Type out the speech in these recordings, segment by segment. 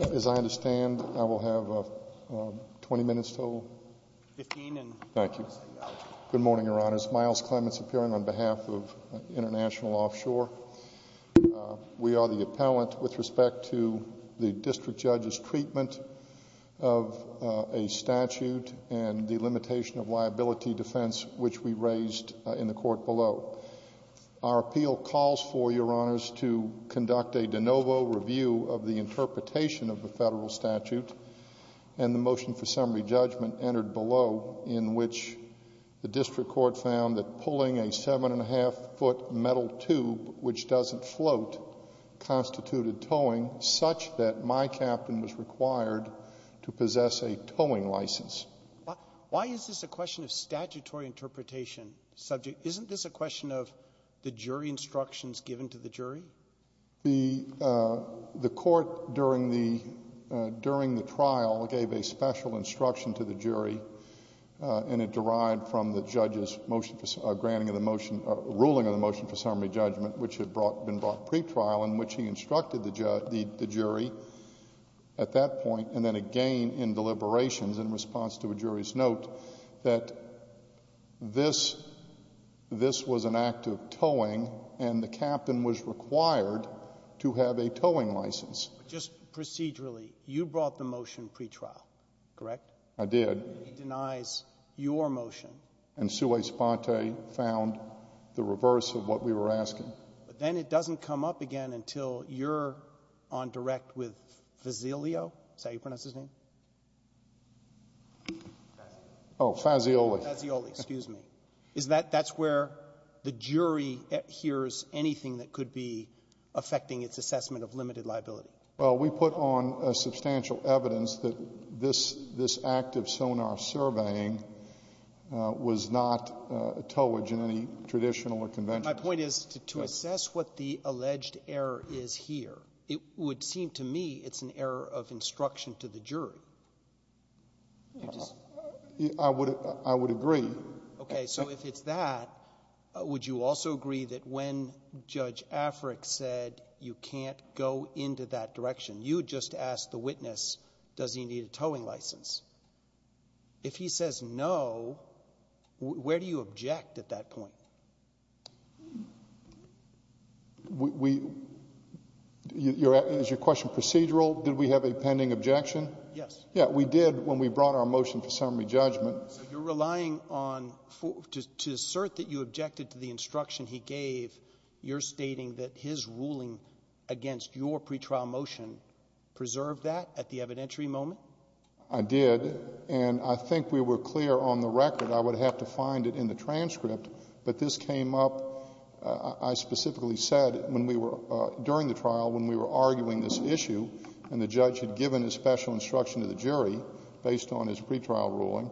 As I understand, I will have 20 minutes total? Fifteen. Thank you. Good morning, Your Honors. Myles Clements, appearing on behalf of International Offshore. We are the appellant with respect to the district judge's treatment of a statute and the limitation of liability defense which we raised in the court below. Our appeal calls for, Your Honors, to conduct a de novo review of the interpretation of the federal statute and the motion for summary judgment entered below in which the district court found that pulling a seven-and-a-half-foot metal tube which doesn't float constituted towing such that my captain was required to possess a towing license. Why is this a question of statutory interpretation subject? Isn't this a question of the jury instructions given to the jury? The court during the trial gave a special instruction to the jury, and it derived from the judge's ruling of the motion for summary judgment which had been brought pretrial in which he instructed the jury at that point and then again in deliberations in response to a jury's note that this was an act of towing and the captain was required to have a towing license. But just procedurally, you brought the motion pretrial, correct? I did. And then he denies your motion. And Sue A. Sponte found the reverse of what we were asking. But then it doesn't come up again until you're on direct with Fazio, is that how you pronounce Oh, Fazioli. Fazioli, excuse me. Is that — that's where the jury hears anything that could be affecting its assessment of limited liability? Well, we put on substantial evidence that this act of sonar surveying was not a towage in any traditional or conventional case. My point is to assess what the alleged error is here, it would seem to me it's an error of instruction to the jury. I would agree. Okay. So if it's that, would you also agree that when Judge Afric said you can't go into that direction, you would just ask the witness, does he need a towing license? If he says no, where do you object at that point? We — is your question procedural? Did we have a pending objection? Yes. Yeah, we did when we brought our motion for summary judgment. So you're relying on — to assert that you objected to the instruction he gave, you're stating that his ruling against your pretrial motion preserved that at the evidentiary moment? I did. And I think we were clear on the record I would have to find it in the transcript, but this came up, I specifically said, when we were — during the trial when we were arguing this issue, and the judge had given his special instruction to the jury based on his pretrial ruling,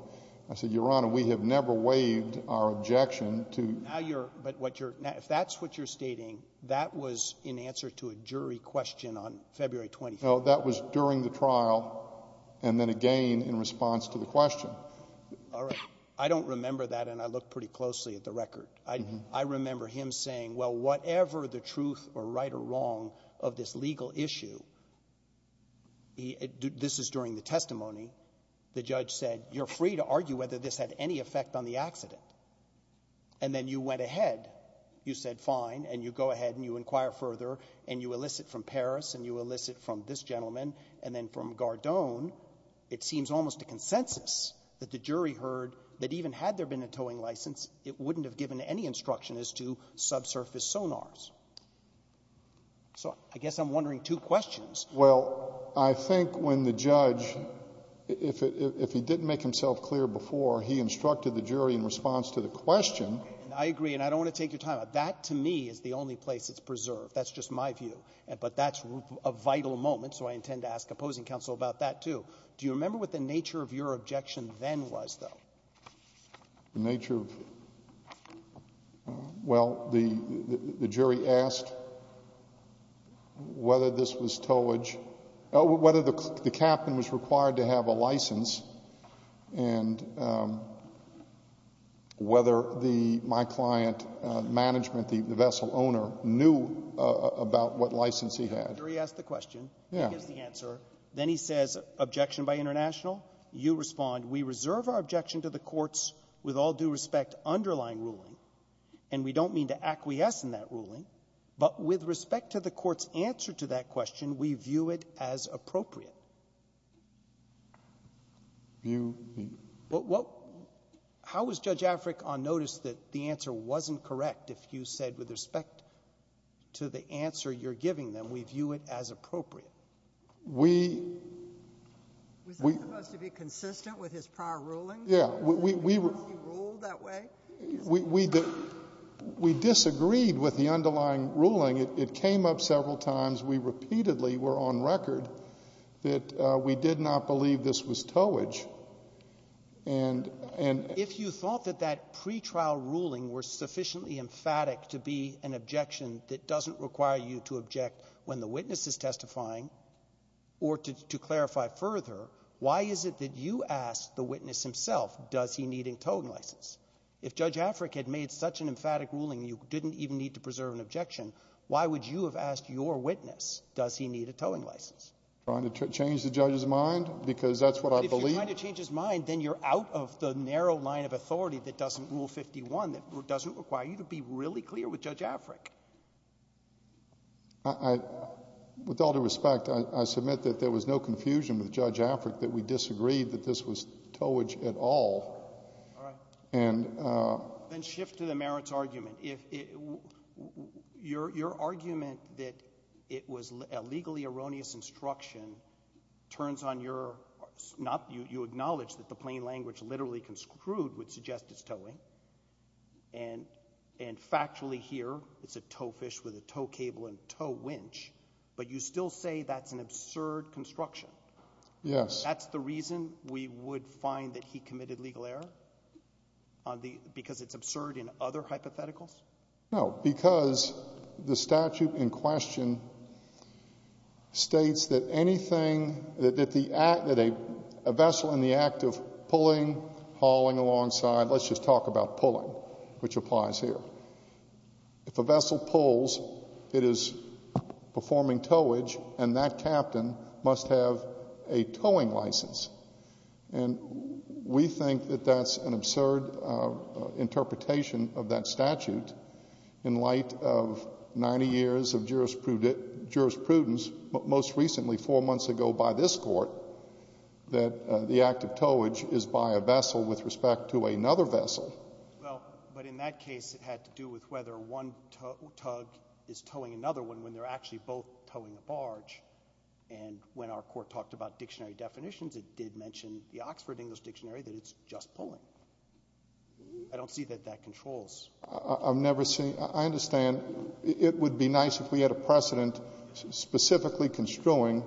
I said, Your Honor, we have never waived our objection to — Now you're — but what you're — now, if that's what you're stating, that was in answer to a jury question on February 24th. No. That was during the trial, and then again in response to the question. All right. I don't remember that, and I look pretty closely at the record. I remember him saying, well, whatever the truth or right or wrong of this legal issue — this is during the testimony — the judge said, You're free to argue whether this had any effect on the accident. And then you went ahead. You said fine, and you go ahead and you inquire further, and you elicit from Paris, and you elicit from this gentleman, and then from Gardone. It seems almost a consensus that the jury heard that even had there been a towing license, it wouldn't have given any instruction as to subsurface sonars. So I guess I'm wondering two questions. Well, I think when the judge — if he didn't make himself clear before, he instructed the jury in response to the question — I agree, and I don't want to take your time. That, to me, is the only place that's preserved. That's just my view. But that's a vital moment, so I intend to ask opposing counsel about that, too. Do you remember what the nature of your objection then was, though? The nature of — well, the jury asked the question. The jury asked whether this was towage — whether the captain was required to have a license and whether the — my client, management, the vessel owner, knew about what license he had. The jury asked the question. Yeah. He gives the answer. Then he says, objection by international. You respond, we reserve our objection to the court's, with all due respect, underlying ruling, and we don't mean to acquiesce in that ruling, but with respect to the court's answer to that question, we view it as appropriate. View — What — how was Judge Africk on notice that the answer wasn't correct if you said with respect to the answer you're giving them, we view it as appropriate? We — Was that supposed to be consistent with his prior ruling? Yeah. We — Was he ruled that way? We disagreed with the underlying ruling. It came up several times. We repeatedly were on record that we did not believe this was towage. And — If you thought that that pretrial ruling was sufficiently emphatic to be an objection that doesn't require you to object when the witness is testifying or to clarify further, why is it that you asked the witness himself, does he need a towing license? If Judge Africk had made such an emphatic ruling, you didn't even need to preserve an objection, why would you have asked your witness, does he need a towing license? Trying to change the judge's mind? Because that's what I believe — If you're trying to change his mind, then you're out of the narrow line of authority that doesn't rule 51, that doesn't require you to be really clear with Judge Africk. I — with all due respect, I submit that there was no confusion with Judge Africk that we disagreed that this was towage at all. All right. And — Then shift to the merits argument. Your argument that it was a legally erroneous instruction turns on your — you acknowledge And factually here, it's a tow fish with a tow cable and a tow winch, but you still say that's an absurd construction. Yes. That's the reason we would find that he committed legal error? Because it's absurd in other hypotheticals? No, because the statute in question states that anything — that a vessel in the act of pulling, hauling alongside — let's just talk about pulling, which applies here. If a vessel pulls, it is performing towage, and that captain must have a towing license. And we think that that's an absurd interpretation of that statute in light of 90 years of jurisprudence, most recently four months ago by this Court, that the act of towage is by a vessel with respect to another vessel. Well, but in that case, it had to do with whether one tug is towing another one when they're actually both towing a barge. And when our Court talked about dictionary definitions, it did mention the Oxford English Dictionary that it's just pulling. I don't see that that controls. I've never seen — I understand. And it would be nice if we had a precedent specifically construing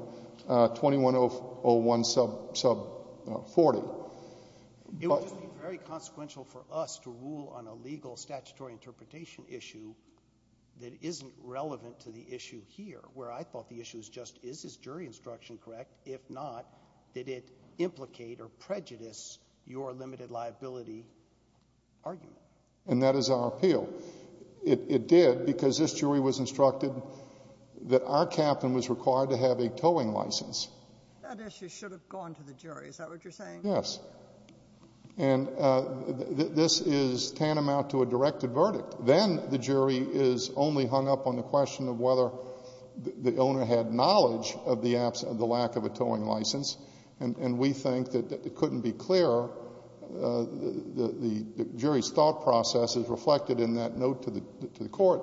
2101 sub 40. It would just be very consequential for us to rule on a legal statutory interpretation issue that isn't relevant to the issue here, where I thought the issue is just, is this jury instruction correct? If not, did it implicate or prejudice your limited liability argument? And that is our appeal. It did, because this jury was instructed that our captain was required to have a towing license. That issue should have gone to the jury. Is that what you're saying? Yes. And this is tantamount to a directed verdict. Then the jury is only hung up on the question of whether the owner had knowledge of the lack of a towing license. And we think that it couldn't be clearer. The jury's thought process is reflected in that note to the court.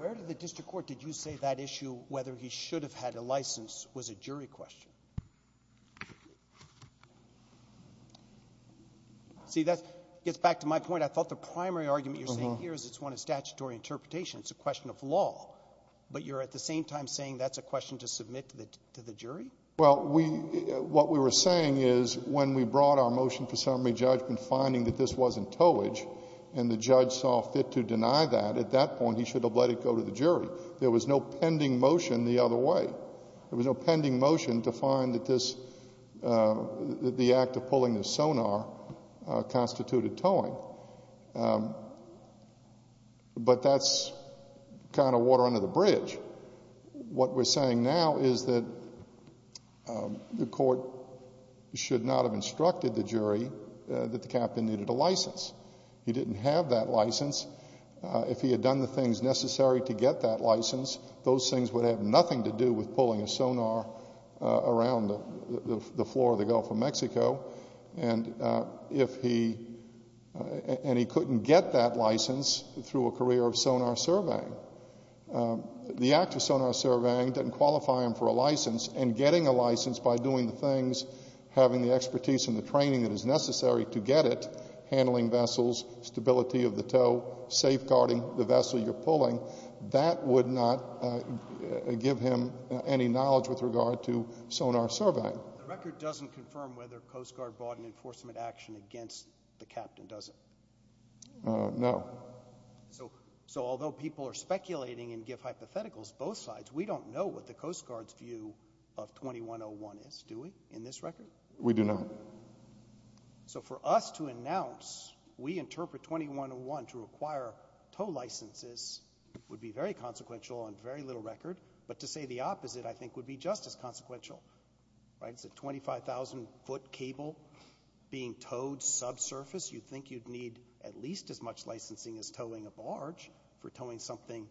Where did the district court — did you say that issue, whether he should have had a license, was a jury question? See, that gets back to my point. I thought the primary argument you're saying here is it's one of statutory interpretation. It's a question of law. But you're at the same time saying that's a question to submit to the jury? Well, what we were saying is when we brought our motion for summary judgment, finding that this wasn't towage, and the judge saw fit to deny that, at that point he should have let it go to the jury. There was no pending motion the other way. There was no pending motion to find that the act of pulling the sonar constituted towing. But that's kind of water under the bridge. What we're saying now is that the court should not have instructed the jury that the captain needed a license. He didn't have that license. If he had done the things necessary to get that license, those things would have nothing to do with pulling a sonar around the floor of the Gulf of Mexico. And if he — and he couldn't get that license through a career of sonar surveying. The act of sonar surveying doesn't qualify him for a license. And getting a license by doing the things, having the expertise and the training that is necessary to get it — handling vessels, stability of the tow, safeguarding the vessel you're pulling — that would not give him any knowledge with regard to sonar surveying. The record doesn't confirm whether Coast Guard brought an enforcement action against the captain, does it? No. So although people are speculating and give hypotheticals both sides, we don't know what the Coast Guard's view of 2101 is, do we, in this record? We do not. So for us to announce, we interpret 2101 to require tow licenses would be very consequential on very little record. But to say the opposite, I think, would be just as consequential, right? It's a 25,000 foot cable being towed subsurface. You'd think you'd need at least as much licensing as towing a barge for towing something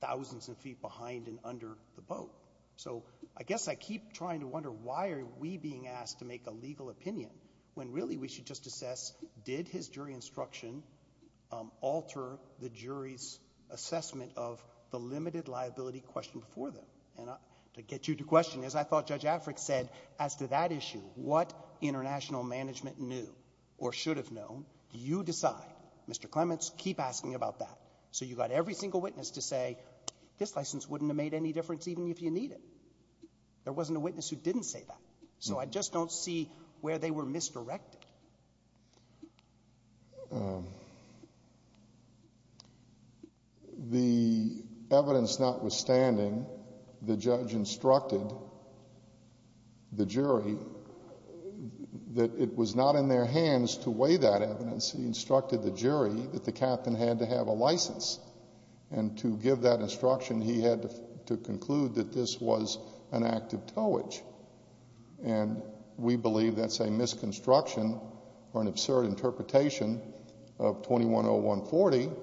thousands of feet behind and under the boat. So I guess I keep trying to wonder, why are we being asked to make a legal opinion when really we should just assess, did his jury instruction alter the jury's assessment of the limited liability question before them? And to get you to question, as I thought Judge Afric said, as to that issue, what international management knew or should have known, you decide. Mr. Clements, keep asking about that. So you got every single witness to say, this license wouldn't have made any difference even if you need it. There wasn't a witness who didn't say that. So I just don't see where they were misdirected. The evidence notwithstanding, the judge instructed the jury that it was not in their hands to weigh that evidence. He instructed the jury that the captain had to have a license. And to give that instruction, he had to conclude that this was an act of towage. And we believe that's a misconstruction or an absurd interpretation of 21-01-40,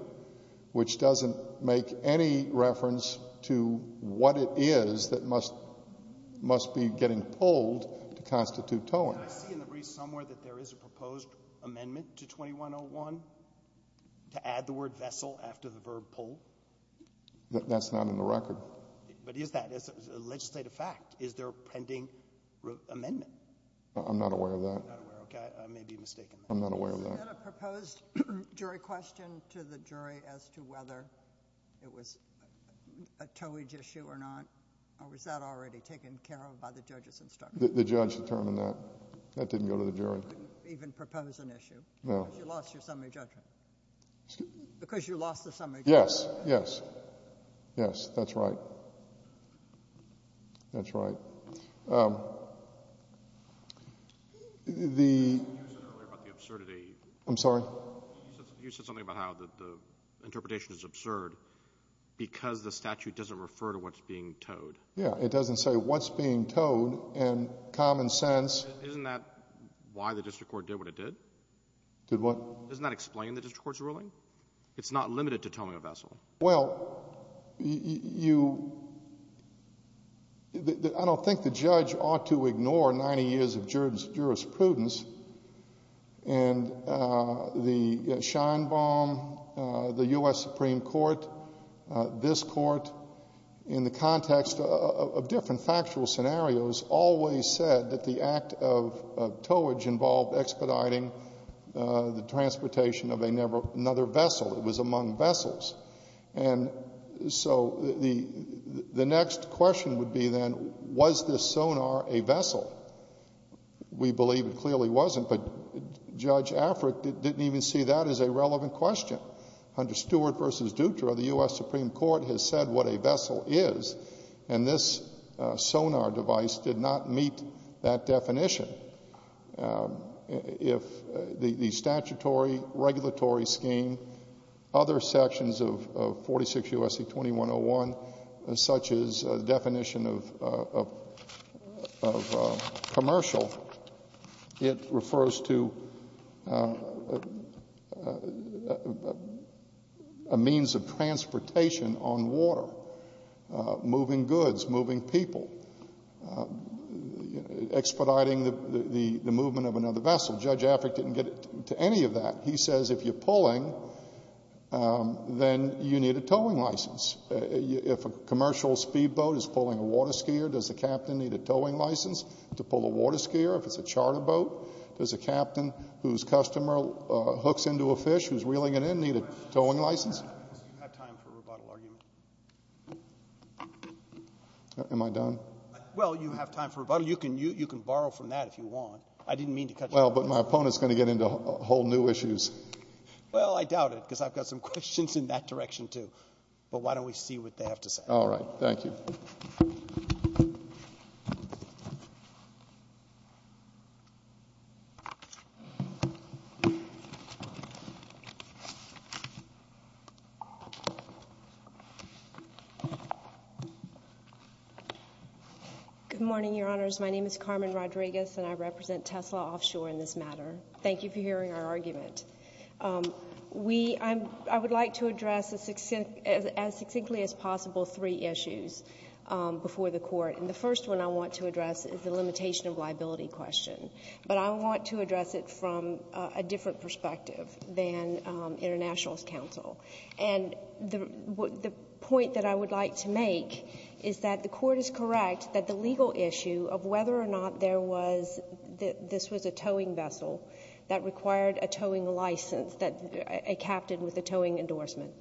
which doesn't make any reference to what it is that must be getting pulled to constitute towing. Did I see in the briefs somewhere that there is a proposed amendment to 21-01-01 to add the word vessel after the verb pull? That's not in the record. But is that? It's a legislative fact. Is there a pending amendment? I'm not aware of that. You're not aware. Okay. I may be mistaken. I'm not aware of that. Is that a proposed jury question to the jury as to whether it was a towage issue or not? Or was that already taken care of by the judge's instruction? The judge determined that. That didn't go to the jury. You didn't even propose an issue. No. Because you lost your summary judgment. Excuse me? Because you lost the summary judgment. Yes. Yes. Yes. That's right. That's right. You said earlier about the absurdity. I'm sorry? You said something about how the interpretation is absurd because the statute doesn't refer to what's being towed. Yes. It doesn't say what's being towed in common sense. Isn't that why the district court did what it did? Did what? Doesn't that explain the district court's ruling? It's not limited to towing a vessel. Well, I don't think the judge ought to ignore 90 years of jurisprudence. And the Scheinbaum, the U.S. Supreme Court, this Court, in the context of different factual scenarios always said that the act of towage involved expediting the transportation of another vessel. It was among vessels. And so the next question would be then, was this sonar a vessel? We believe it clearly wasn't, but Judge Afric didn't even see that as a relevant question. Under Stewart v. Dutra, the U.S. Supreme Court has said what a vessel is, and this sonar device did not meet that definition. If the statutory regulatory scheme, other sections of 46 U.S.C. 2101, such as the definition of commercial, it refers to a means of transportation on water, moving goods, moving people, expediting the movement of another vessel. Judge Afric didn't get to any of that. He says if you're pulling, then you need a towing license. If a commercial speedboat is pulling a water skier, does the captain need a towing license to pull a water skier? If it's a charter boat, does a captain whose customer hooks into a fish, who's reeling it in, need a towing license? You have time for a rebuttal argument. Am I done? Well, you have time for a rebuttal. You can borrow from that if you want. I didn't mean to cut you off. Well, but my opponent's going to get into whole new issues. Well, I doubt it, because I've got some questions in that direction, too. But why don't we see what they have to say? All right. Thank you. Good morning, Your Honors. My name is Carmen Rodriguez, and I represent Tesla Offshore in this matter. Thank you for hearing our argument. We — I would like to address as succinctly as possible three issues before the Court. And the first one I want to address is the limitation of liability question. But I want to address it from a different perspective than International's counsel. And the point that I would like to make is that the Court is correct that the legal issue of whether or not there was — this was a towing vessel that required a towing license, a captain with a towing endorsement,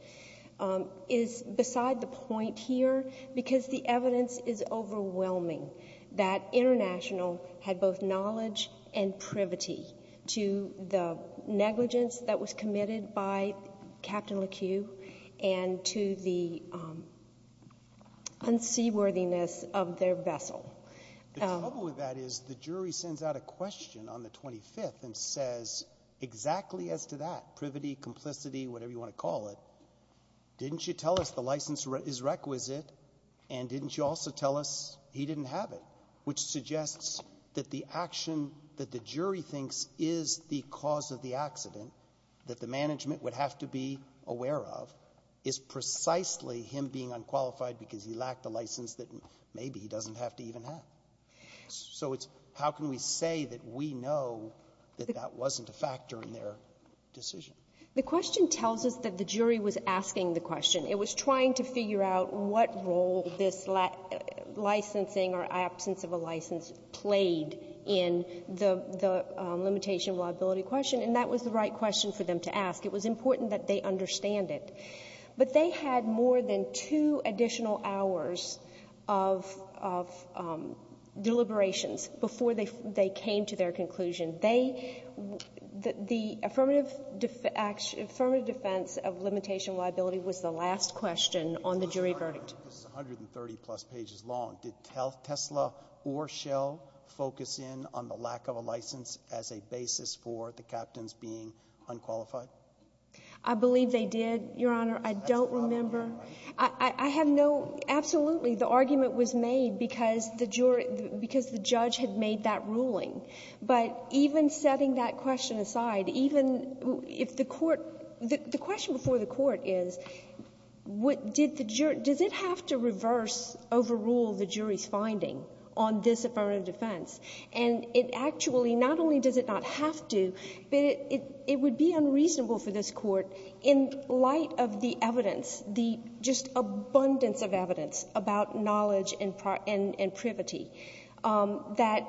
is beside the point here because the evidence is overwhelming that International had both knowledge and privity to the negligence that was committed by Captain Lequeu and to the unseaworthiness of their vessel. The trouble with that is the jury sends out a question on the 25th and says exactly as to that — privity, complicity, whatever you want to call it — didn't you tell us the license is requisite, and didn't you also tell us he didn't have it, which suggests that the action that the jury thinks is the cause of the accident that the management would have to be aware of is precisely him being unqualified because he lacked the license that maybe he doesn't have to even have? So it's — how can we say that we know that that wasn't a factor in their decision? The question tells us that the jury was asking the question. It was trying to figure out what role this licensing or absence of a license played in the limitation liability question, and that was the right question for them to ask. It was important that they understand it. But they had more than two additional hours of deliberations before they came to their conclusion. They — the affirmative defense of limitation liability was the last question on the jury verdict. This is 130-plus pages long. Did Tesla or Shell focus in on the lack of a license as a basis for the captains being unqualified? I believe they did, Your Honor. I don't remember. That's the problem. I have no — absolutely, the argument was made because the jury — because the judge had made that ruling. But even setting that question aside, even if the court — the question before the court is, did the jury — does it have to reverse, overrule the jury's finding on this affirmative defense? And it actually — not only does it not have to, but it would be unreasonable for this court, in light of the evidence, the just abundance of evidence about knowledge and privity, that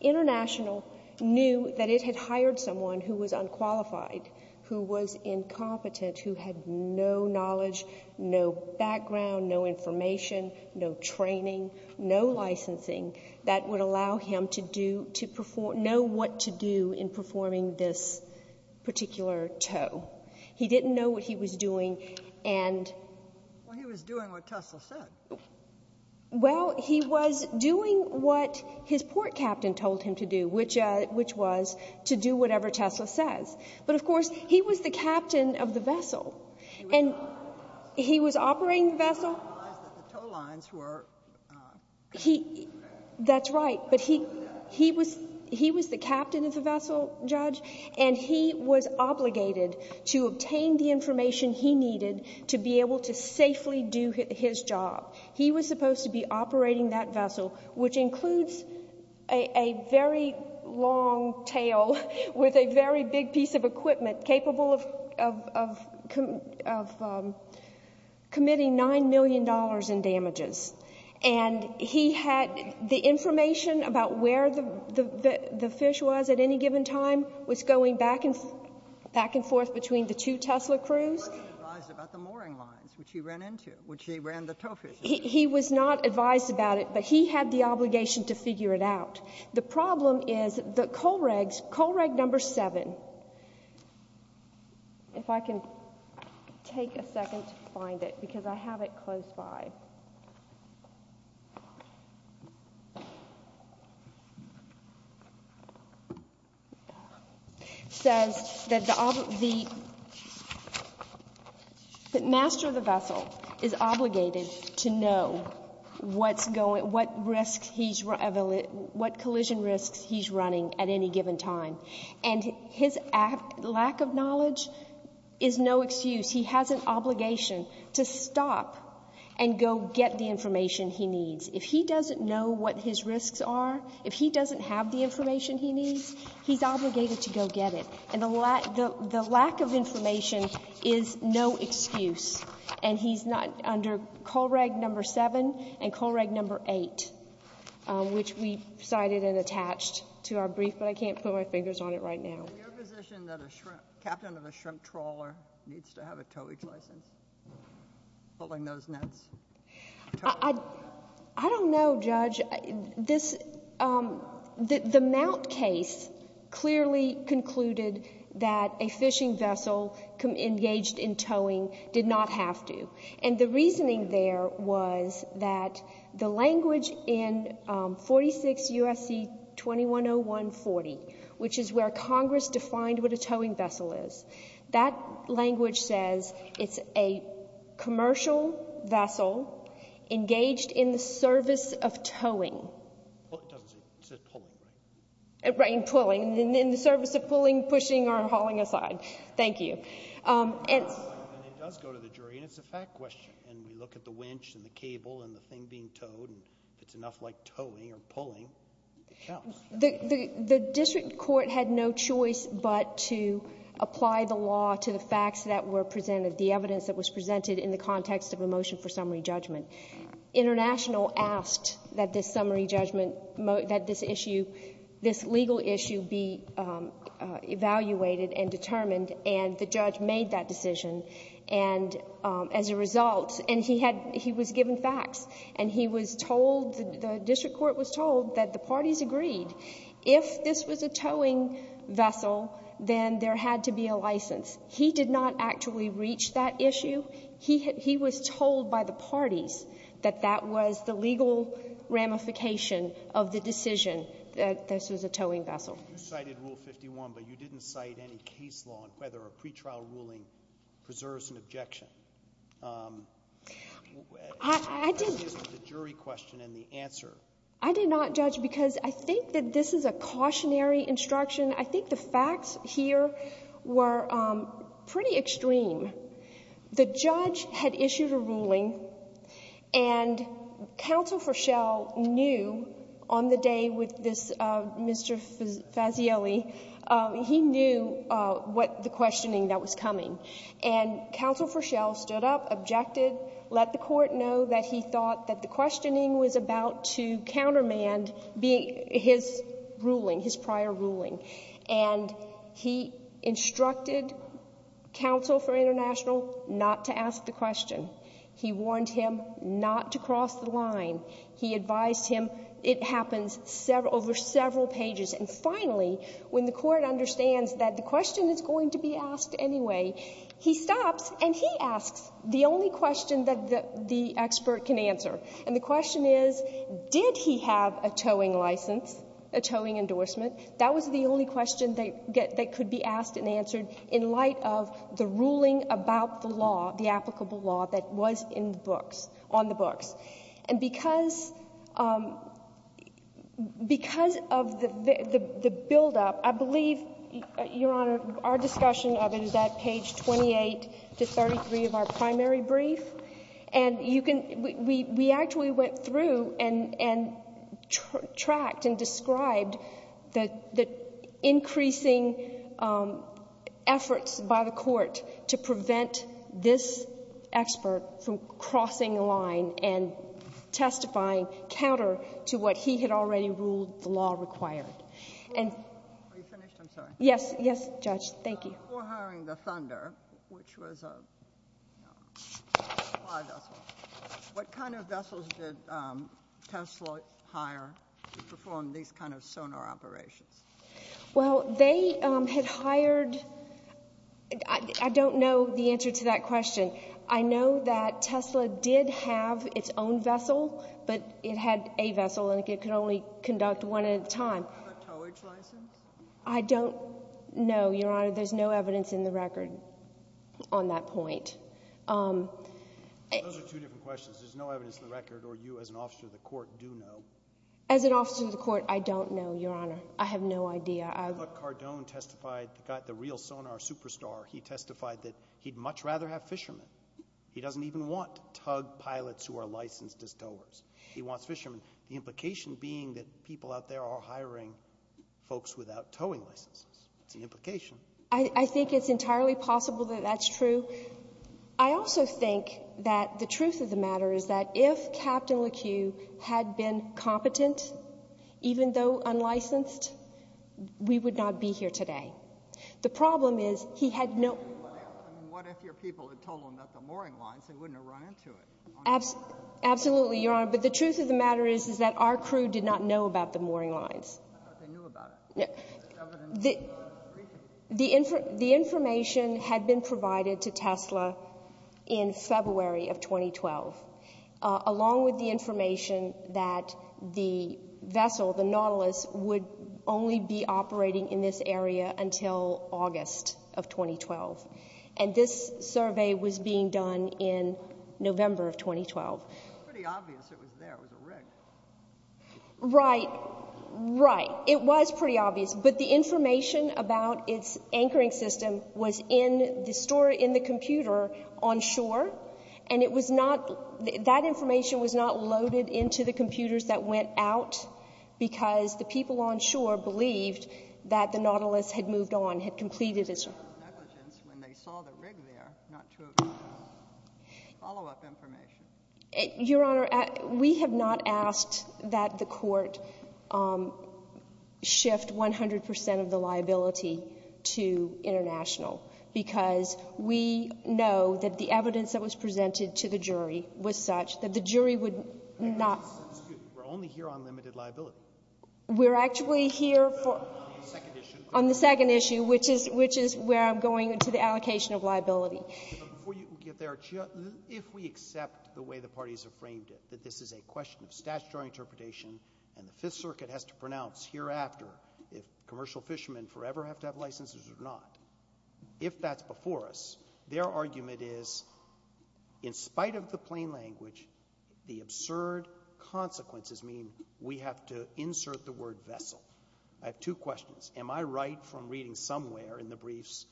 International knew that it had hired someone who was unqualified, who was incompetent, who had no knowledge, no background, no information, no training, no licensing that would allow him to do — to perform what to do in performing this particular tow. He didn't know what he was doing and — Well, he was doing what Tesla said. Well, he was doing what his port captain told him to do, which was to do whatever Tesla says. But, of course, he was the captain of the vessel. And he was operating the vessel. He didn't realize that the tow lines were — He — that's right. But he — he was — he was the captain of the vessel, Judge, and he was obligated to obtain the information he needed to be able to safely do his job. He was supposed to be operating that vessel, which includes a very long tail with a very big piece of equipment capable of committing $9 million in damages. And he had — the information about where the fish was at any given time was going back and forth between the two Tesla crews. He wasn't advised about the mooring lines, which he ran into, which he ran the tow fish into. He was not advised about it, but he had the obligation to figure it out. The problem is the Colregs — Colreg number seven — if I can take a second to find it, because I have it close by — says that the — that master of the vessel is obligated to know what's going — what risks he's — what collision risks he's running at any given time. And his lack of knowledge is no excuse. He has an obligation to stop and go get the information he needs. If he doesn't know what his risks are, if he doesn't have the information he needs, he's obligated to go get it. And the lack of information is no excuse. And he's not — under Colreg number seven and Colreg number eight, which we cited and attached to our brief, but I can't put my fingers on it right now. Are you in a position that a captain of a shrimp trawler needs to have a towage license pulling those nets? I don't know, Judge. This — the Mount case clearly concluded that a fishing vessel engaged in towing did not have to. And the reasoning there was that the language in 46 U.S.C. 210140, which is where Congress defined what a towing vessel is, that language says it's a commercial vessel engaged in the service of towing. Well, it doesn't say — it says pulling, right? Right, and pulling — in the service of pulling, pushing, or hauling aside. Thank you. And it does go to the jury, and it's a fact question. And we look at the winch and the cable and the thing being towed, and if it's enough like towing or pulling, it counts. The district court had no choice but to apply the law to the facts that were presented, the evidence that was presented in the context of a motion for summary judgment. International asked that this summary judgment — that this issue — this legal issue be evaluated and determined, and the judge made that decision. And as a result — and he had — he was given facts, and he was told — the district court was told that the parties agreed if this was a towing vessel, then there had to be a license. He did not actually reach that issue. He had — he was told by the parties that that was the legal ramification of the decision that this was a towing vessel. You cited Rule 51, but you didn't cite any case law on whether a pre-trial ruling preserves an objection. I didn't — The question is with the jury question and the answer. I did not judge because I think that this is a cautionary instruction. I think the facts here were pretty extreme. The judge had issued a ruling, and counsel Fischel knew on the day with this — Mr. Fazielli, he knew what — the questioning that was coming. And counsel Fischel stood up, objected, let the court know that he thought that the questioning was about to countermand being — his ruling, his prior ruling. And he instructed counsel for International not to ask the question. He warned him not to cross the line. He advised him it happens over several pages. And finally, when the Court understands that the question is going to be asked anyway, he stops, and he asks the only question that the expert can answer. And the question is, did he have a towing license, a towing endorsement? That was the only question that could be asked and answered in light of the ruling about the law, the applicable law that was in the books — on the books. And because — because of the buildup, I believe, Your Honor, our discussion of it is at page 28 to 33 of our primary brief. And you can — we actually went through and tracked and described the increasing efforts by the Court to prevent this expert from crossing the line and testifying counter to what he had already ruled the law required. And — Are you finished? I'm sorry. Yes. Yes, Judge. Thank you. Before hiring the Thunder, which was a supply vessel, what kind of vessels did Tesla hire to perform these kind of sonar operations? Well, they had hired — I don't know the answer to that question. I know that Tesla did have its own vessel, but it had a vessel, and it could only conduct one at a time. A towage license? I don't know, Your Honor. There's no evidence in the record on that point. Those are two different questions. There's no evidence in the record, or you as an officer of the Court do know? As an officer of the Court, I don't know, Your Honor. I have no idea. I thought Cardone testified, the guy, the real sonar superstar, he testified that he'd much rather have fishermen. He doesn't even want tug pilots who are licensed as towers. He wants fishermen, the implication being that people out there are hiring folks without towing licenses. That's the implication. I think it's entirely possible that that's true. I also think that the truth of the matter is that if Captain LeCue had been competent, even though unlicensed, we would not be here today. The problem is, he had no — What if your people had told him about the mooring lines? They wouldn't have run into it. Absolutely, Your Honor. But the truth of the matter is, is that our crew did not know about the mooring lines. I thought they knew about it. Yeah. The information had been provided to Tesla in February of 2012, along with the information that the vessel, the Nautilus, would only be operating in this area until August of 2012. And this survey was being done in November of 2012. Pretty obvious it was there. It was a rig. Right. Right. It was pretty obvious. But the information about its anchoring system was in the store — in the computer on shore. And it was not — that information was not loaded into the computers that went out because the people on shore believed that the Nautilus had moved on, had completed its — It was negligence when they saw the rig there not to have given them follow-up information. Your Honor, we have not asked that the Court shift 100 percent of the liability to International because we know that the evidence that was presented to the jury was such that the jury would not — Excuse me. We're only here on limited liability. We're actually here for — On the second issue. On the second issue, which is — which is where I'm going to the allocation of liability. But before you get there, if we accept the way the parties have framed it, that this is a question of statutory interpretation and the Fifth Circuit has to pronounce hereafter if commercial fishermen forever have to have licenses or not, if that's before us, their argument is, in spite of the plain language, the absurd consequences mean we have to insert the word vessel. I have two questions. Am I right from reading somewhere in the briefs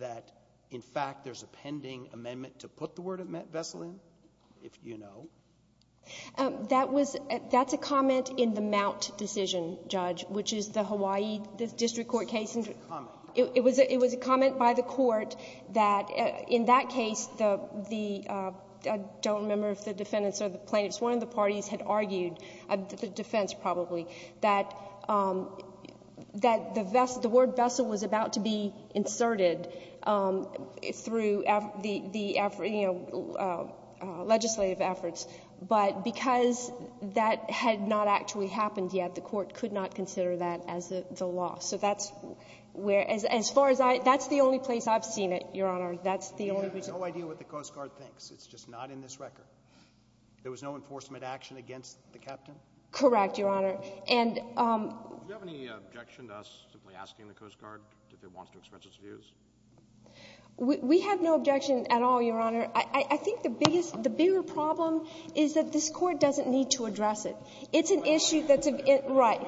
that, in fact, there's a pending amendment to put the word vessel in, if you know? That was — that's a comment in the Mount decision, Judge, which is the Hawaii district court case. It was a comment. It was a comment by the Court that, in that case, the — I don't remember if the defendants or the plaintiffs, one of the parties had argued, the defense probably, that the word vessel was about to be inserted through the — you know, legislative efforts. But because that had not actually happened yet, the Court could not consider that as the law. So that's where — as far as I — that's the only place I've seen it, Your Honor. That's the only — You have no idea what the Coast Guard thinks. It's just not in this record. There was no enforcement action against the captain? Correct, Your Honor. And — Do you have any objection to us simply asking the Coast Guard if it wants to express its views? We have no objection at all, Your Honor. I think the biggest — the bigger problem is that this Court doesn't need to address it. It's an issue that's — Right.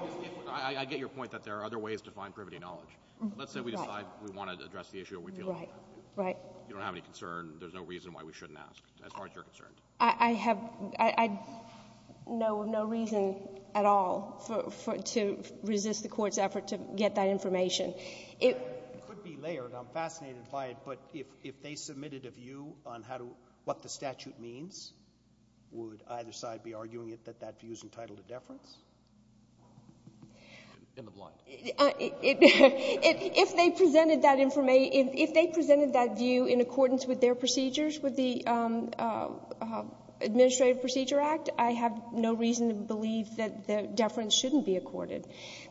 I get your point that there are other ways to find privity knowledge. Let's say we decide we want to address the issue that we feel — Right. Right. You don't have any concern. There's no reason why we shouldn't ask, as far as you're concerned. I have — I know of no reason at all for — to resist the Court's effort to get that information. It could be layered. I'm fascinated by it. But if they submitted a view on how to — what the statute means, would either side be arguing that that view is entitled to deference? In the blind. If they presented that — if they presented that view in accordance with their procedures, with the Administrative Procedure Act, I have no reason to believe that the deference shouldn't be accorded.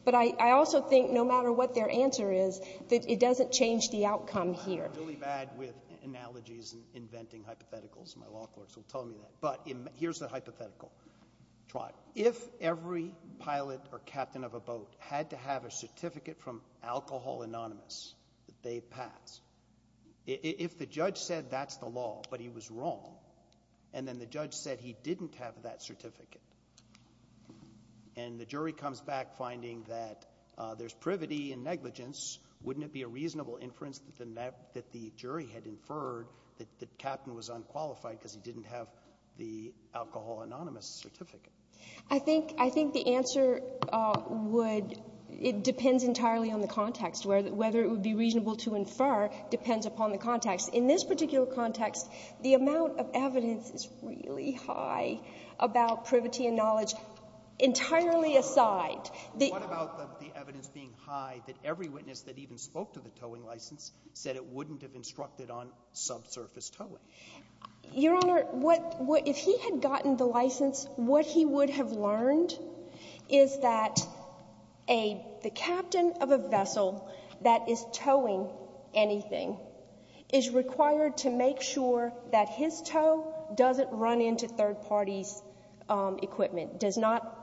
But I also think, no matter what their answer is, that it doesn't change the outcome here. I'm really bad with analogies and inventing hypotheticals. My law clerks will tell me that. But here's the hypothetical. Try it. If every pilot or captain of a boat had to have a certificate from Alcohol Anonymous that they pass, if the judge said that's the law, but he was wrong, and then the judge said he didn't have that certificate, and the jury comes back finding that there's privity and negligence, wouldn't it be a reasonable inference that the — that the jury had inferred that the captain was unqualified because he didn't have the Alcohol Anonymous certificate? I think — I think the answer would — it depends entirely on the context, whether it would be reasonable to infer depends upon the context. In this particular context, the amount of evidence is really high about privity and knowledge entirely aside. What about the evidence being high that every witness that even spoke to the towing license said it wouldn't have instructed on subsurface towing? Your Honor, what — if he had gotten the license, what he would have learned is that a — the captain of a vessel that is towing anything is required to make sure that his tow doesn't run into third parties' equipment, does not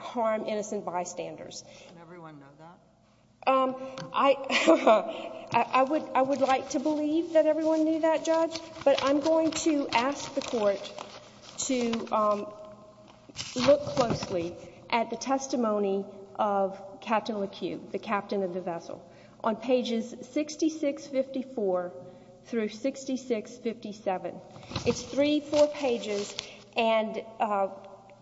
harm innocent bystanders. Does everyone know that? I — I would — I would like to believe that everyone knew that, Judge, but I'm going to ask the Court to look closely at the testimony of Captain LeCue, the captain of the vessel, on pages 6654 through 6657. It's three full pages, and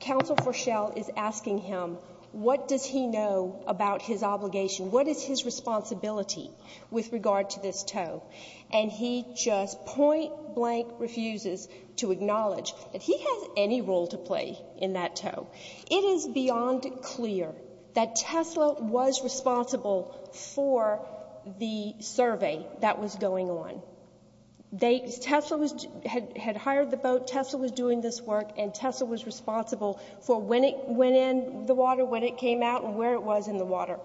Counsel Forshell is asking him, what does he know about his obligation? What is his responsibility with regard to this tow? And he just point-blank refuses to acknowledge that he has any role to play in that tow. It is beyond clear that Tesla was responsible for the survey that was going on. They — Tesla was — had hired the boat, Tesla was doing this work, and Tesla was responsible for when it went in the water, when it came out, and where it was in the water.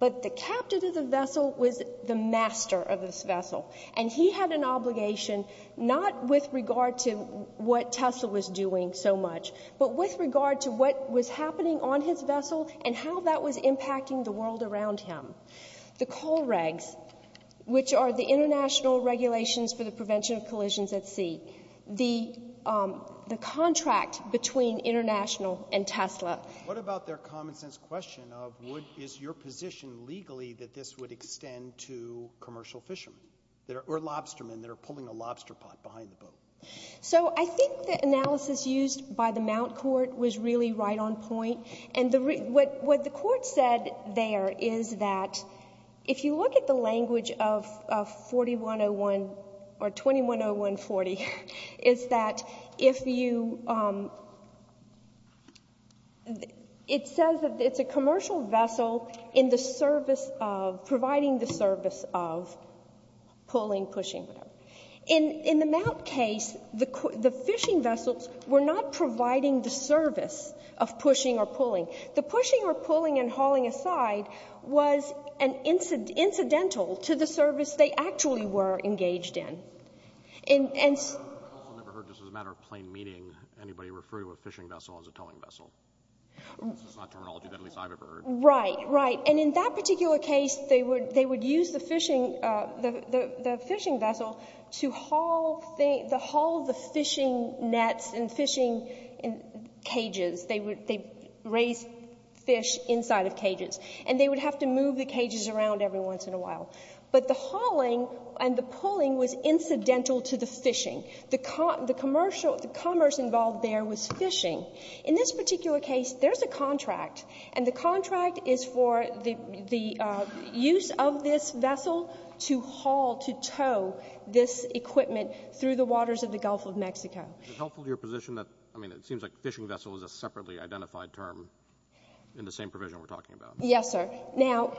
But the captain of the vessel was the master of this vessel, and he had an obligation not with regard to what Tesla was doing so much, but with regard to what was happening on his vessel and how that was impacting the world around him. The coal regs, which are the international regulations for the prevention of collisions at sea. The contract between International and Tesla. What about their common-sense question of, would — is your position legally that this would extend to commercial fishermen or lobstermen that are pulling a lobster pot behind the boat? So I think the analysis used by the Mount Court was really right on point. And the — what the said there is that if you look at the language of 4101 — or 210140, is that if you — it says that it's a commercial vessel in the service of — providing the service of pulling, pushing, whatever. In the Mount case, the fishing vessels were not providing the service of pushing or pulling. The pushing or pulling and hauling aside was an incidental to the service they actually were engaged in. And — I've also never heard, just as a matter of plain meaning, anybody refer to a fishing vessel as a towing vessel. This is not terminology that at least I've ever heard. Right. Right. And in that particular case, they would — they would use the fishing — the raised fish inside of cages. And they would have to move the cages around every once in a while. But the hauling and the pulling was incidental to the fishing. The commercial — the commerce involved there was fishing. In this particular case, there's a contract, and the contract is for the use of this vessel to haul, to tow this equipment through the waters of the Gulf of Mexico. Is it helpful to your position that — I mean, it seems like fishing vessel is a separately identified term in the same provision we're talking about. Yes, sir. Now,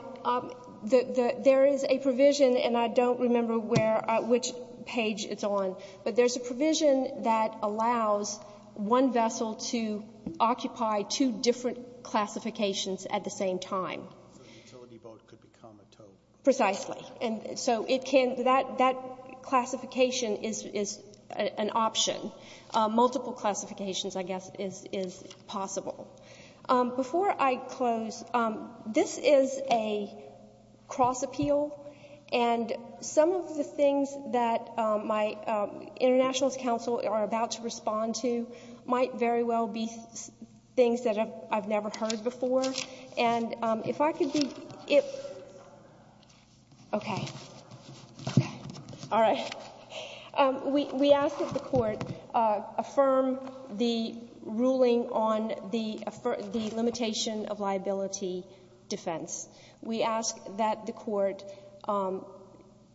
there is a provision, and I don't remember where — which page it's on, but there's a provision that allows one vessel to occupy two different classifications at the same time. So the utility boat could become a tow. Precisely. And so it can — that classification is an option. Multiple classifications, I guess, is possible. Before I close, this is a cross-appeal, and some of the things that my Internationalist Council are about to respond to might very well be things that I've never heard before. And if I could be — okay. Okay. All right. We ask that the Court affirm the ruling on the limitation of liability defense. We ask that the Court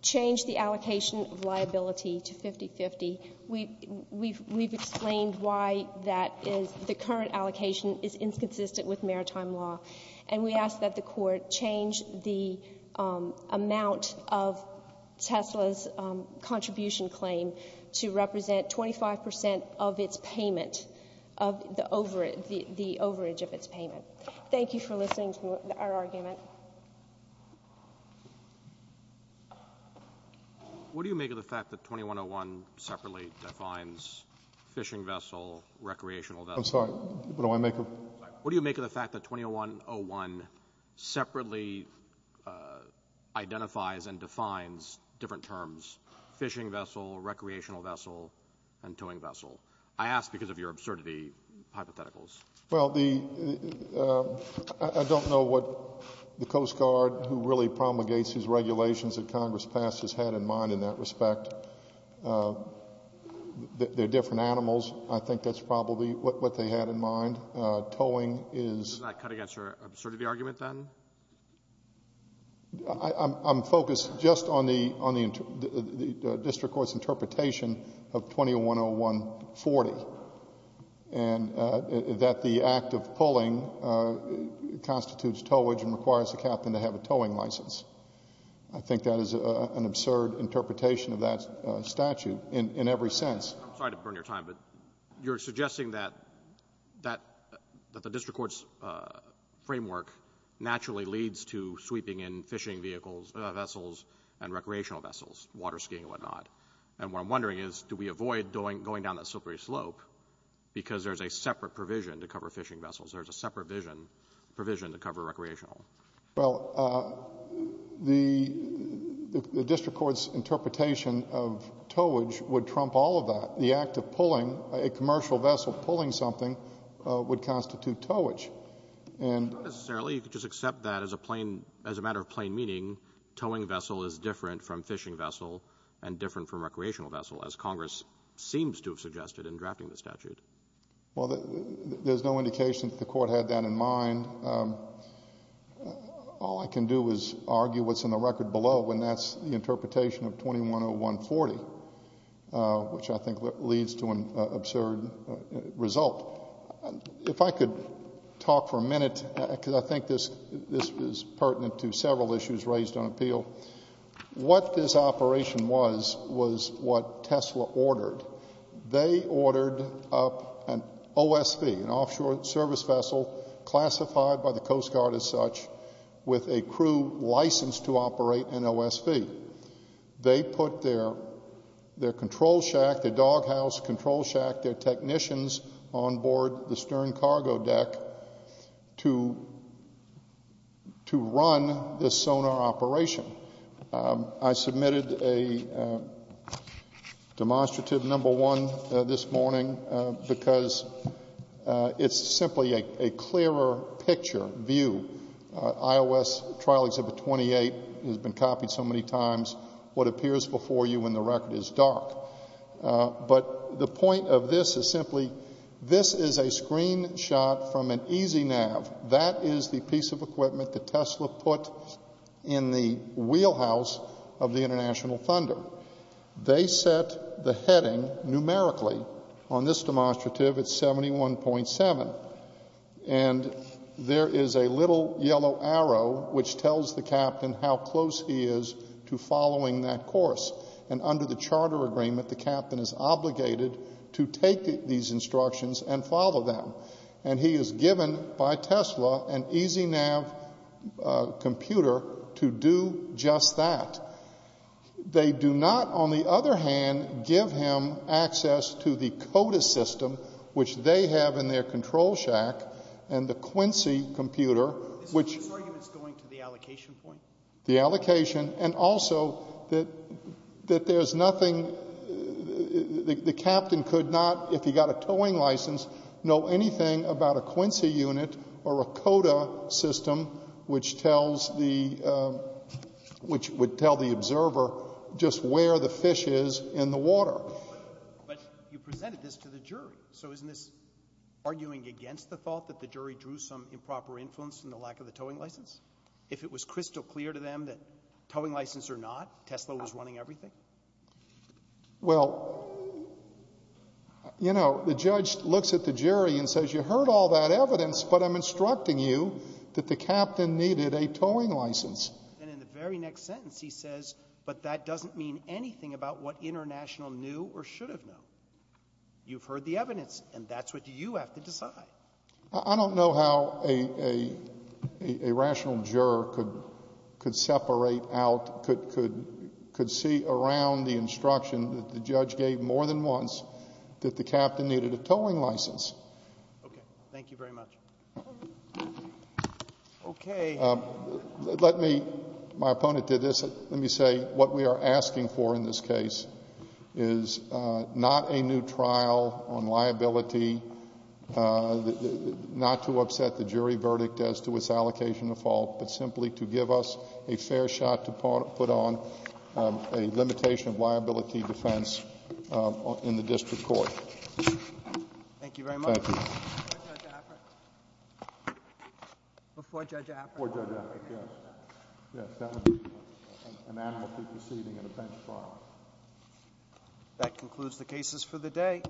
change the allocation of liability to 50-50. We've — we've explained why that is — the current allocation is inconsistent with maritime law. And we ask that the Court change the amount of Tesla's contribution claim to represent 25 percent of its payment, of the — the overage of its payment. Thank you for listening to our argument. What do you make of the fact that 2101 separately defines fishing vessel, recreational vessel — I'm sorry. What do I make of — What do you make of the fact that 2101 separately identifies and defines different terms — fishing vessel, recreational vessel, and towing vessel? I ask because of your absurdity hypotheticals. Well, the — I don't know what the Coast Guard, who really promulgates these regulations that Congress passed, has had in mind in that respect. They're different animals. I think that's probably what they had in mind. Towing is — Does that cut against your absurdity argument, then? I'm — I'm — I'm focused just on the — on the district court's interpretation of 2101-40, and that the act of pulling constitutes towage and requires the captain to have a towing license. I think that is an absurd interpretation of that statute in — in every sense. I'm sorry to burn your time, but you're suggesting that — that — that the district court's framework naturally leads to sweeping in fishing vehicles, vessels, and recreational vessels, water skiing and whatnot. And what I'm wondering is, do we avoid going down that slippery slope because there's a separate provision to cover fishing vessels? There's a separate vision — provision to cover recreational? Well, the — the district court's interpretation of towage would trump all of that. The act of pulling — Not necessarily. You could just accept that as a plain — as a matter of plain meaning, towing vessel is different from fishing vessel and different from recreational vessel, as Congress seems to have suggested in drafting the statute. Well, there's no indication that the court had that in mind. All I can do is argue what's in the record below, and that's the interpretation of 2101-40, which I think leads to an absurd result. If I could talk for a minute, because I think this — this is pertinent to several issues raised on appeal. What this operation was, was what Tesla ordered. They ordered up an OSV, an offshore service vessel classified by the Coast Guard as such, with a crew licensed to their control shack, their doghouse control shack, their technicians on board the stern cargo deck to — to run this sonar operation. I submitted a demonstrative number one this morning because it's simply a clearer picture, view. IOS trial exhibit 28 has been copied so many times. What appears before you in the record is dark. But the point of this is simply, this is a screenshot from an EasyNav. That is the piece of equipment that Tesla put in the wheelhouse of the International Thunder. They set the heading numerically. On this demonstrative, it's 71.7. And there is a little yellow arrow which tells the captain how close he is to following that course. And under the charter agreement, the captain is obligated to take these instructions and follow them. And he is given by Tesla an EasyNav computer to do just that. They do not, on the other hand, give him access to the CODIS system, which they have in their control shack, and the Quincy computer, which — Is this argument going to the allocation point? The allocation. And also that there's nothing — the captain could not, if he got a towing license, know anything about a Quincy unit or a CODA system which tells the — which would tell the observer just where the fish is in the water. But you presented this to the jury. So isn't this arguing against the thought that the jury drew some improper influence in the lack of the towing license? If it was crystal clear to them that towing license or not, Tesla was running everything? Well, you know, the judge looks at the jury and says, You heard all that evidence, but I'm instructing you that the captain needed a towing license. And in the very next sentence, he says, But that doesn't mean anything about what International knew or should have known. You've heard the evidence, and that's what you have to decide. I don't know how a rational juror could separate out — could see around the instruction that the judge gave more than once that the captain needed a towing license. Okay. Thank you very much. Okay. Let me — my opponent did this. Let me say what we are asking for in this case is not a new trial on liability, not to upset the jury verdict as to its allocation of fault, but simply to give us a fair shot to put on a limitation of liability defense in the district court. Thank you very much. Thank you. Before Judge Affreck. Before Judge Affreck, yes. Yes, that would be an amnesty proceeding in a bench trial. That concludes the cases for the day.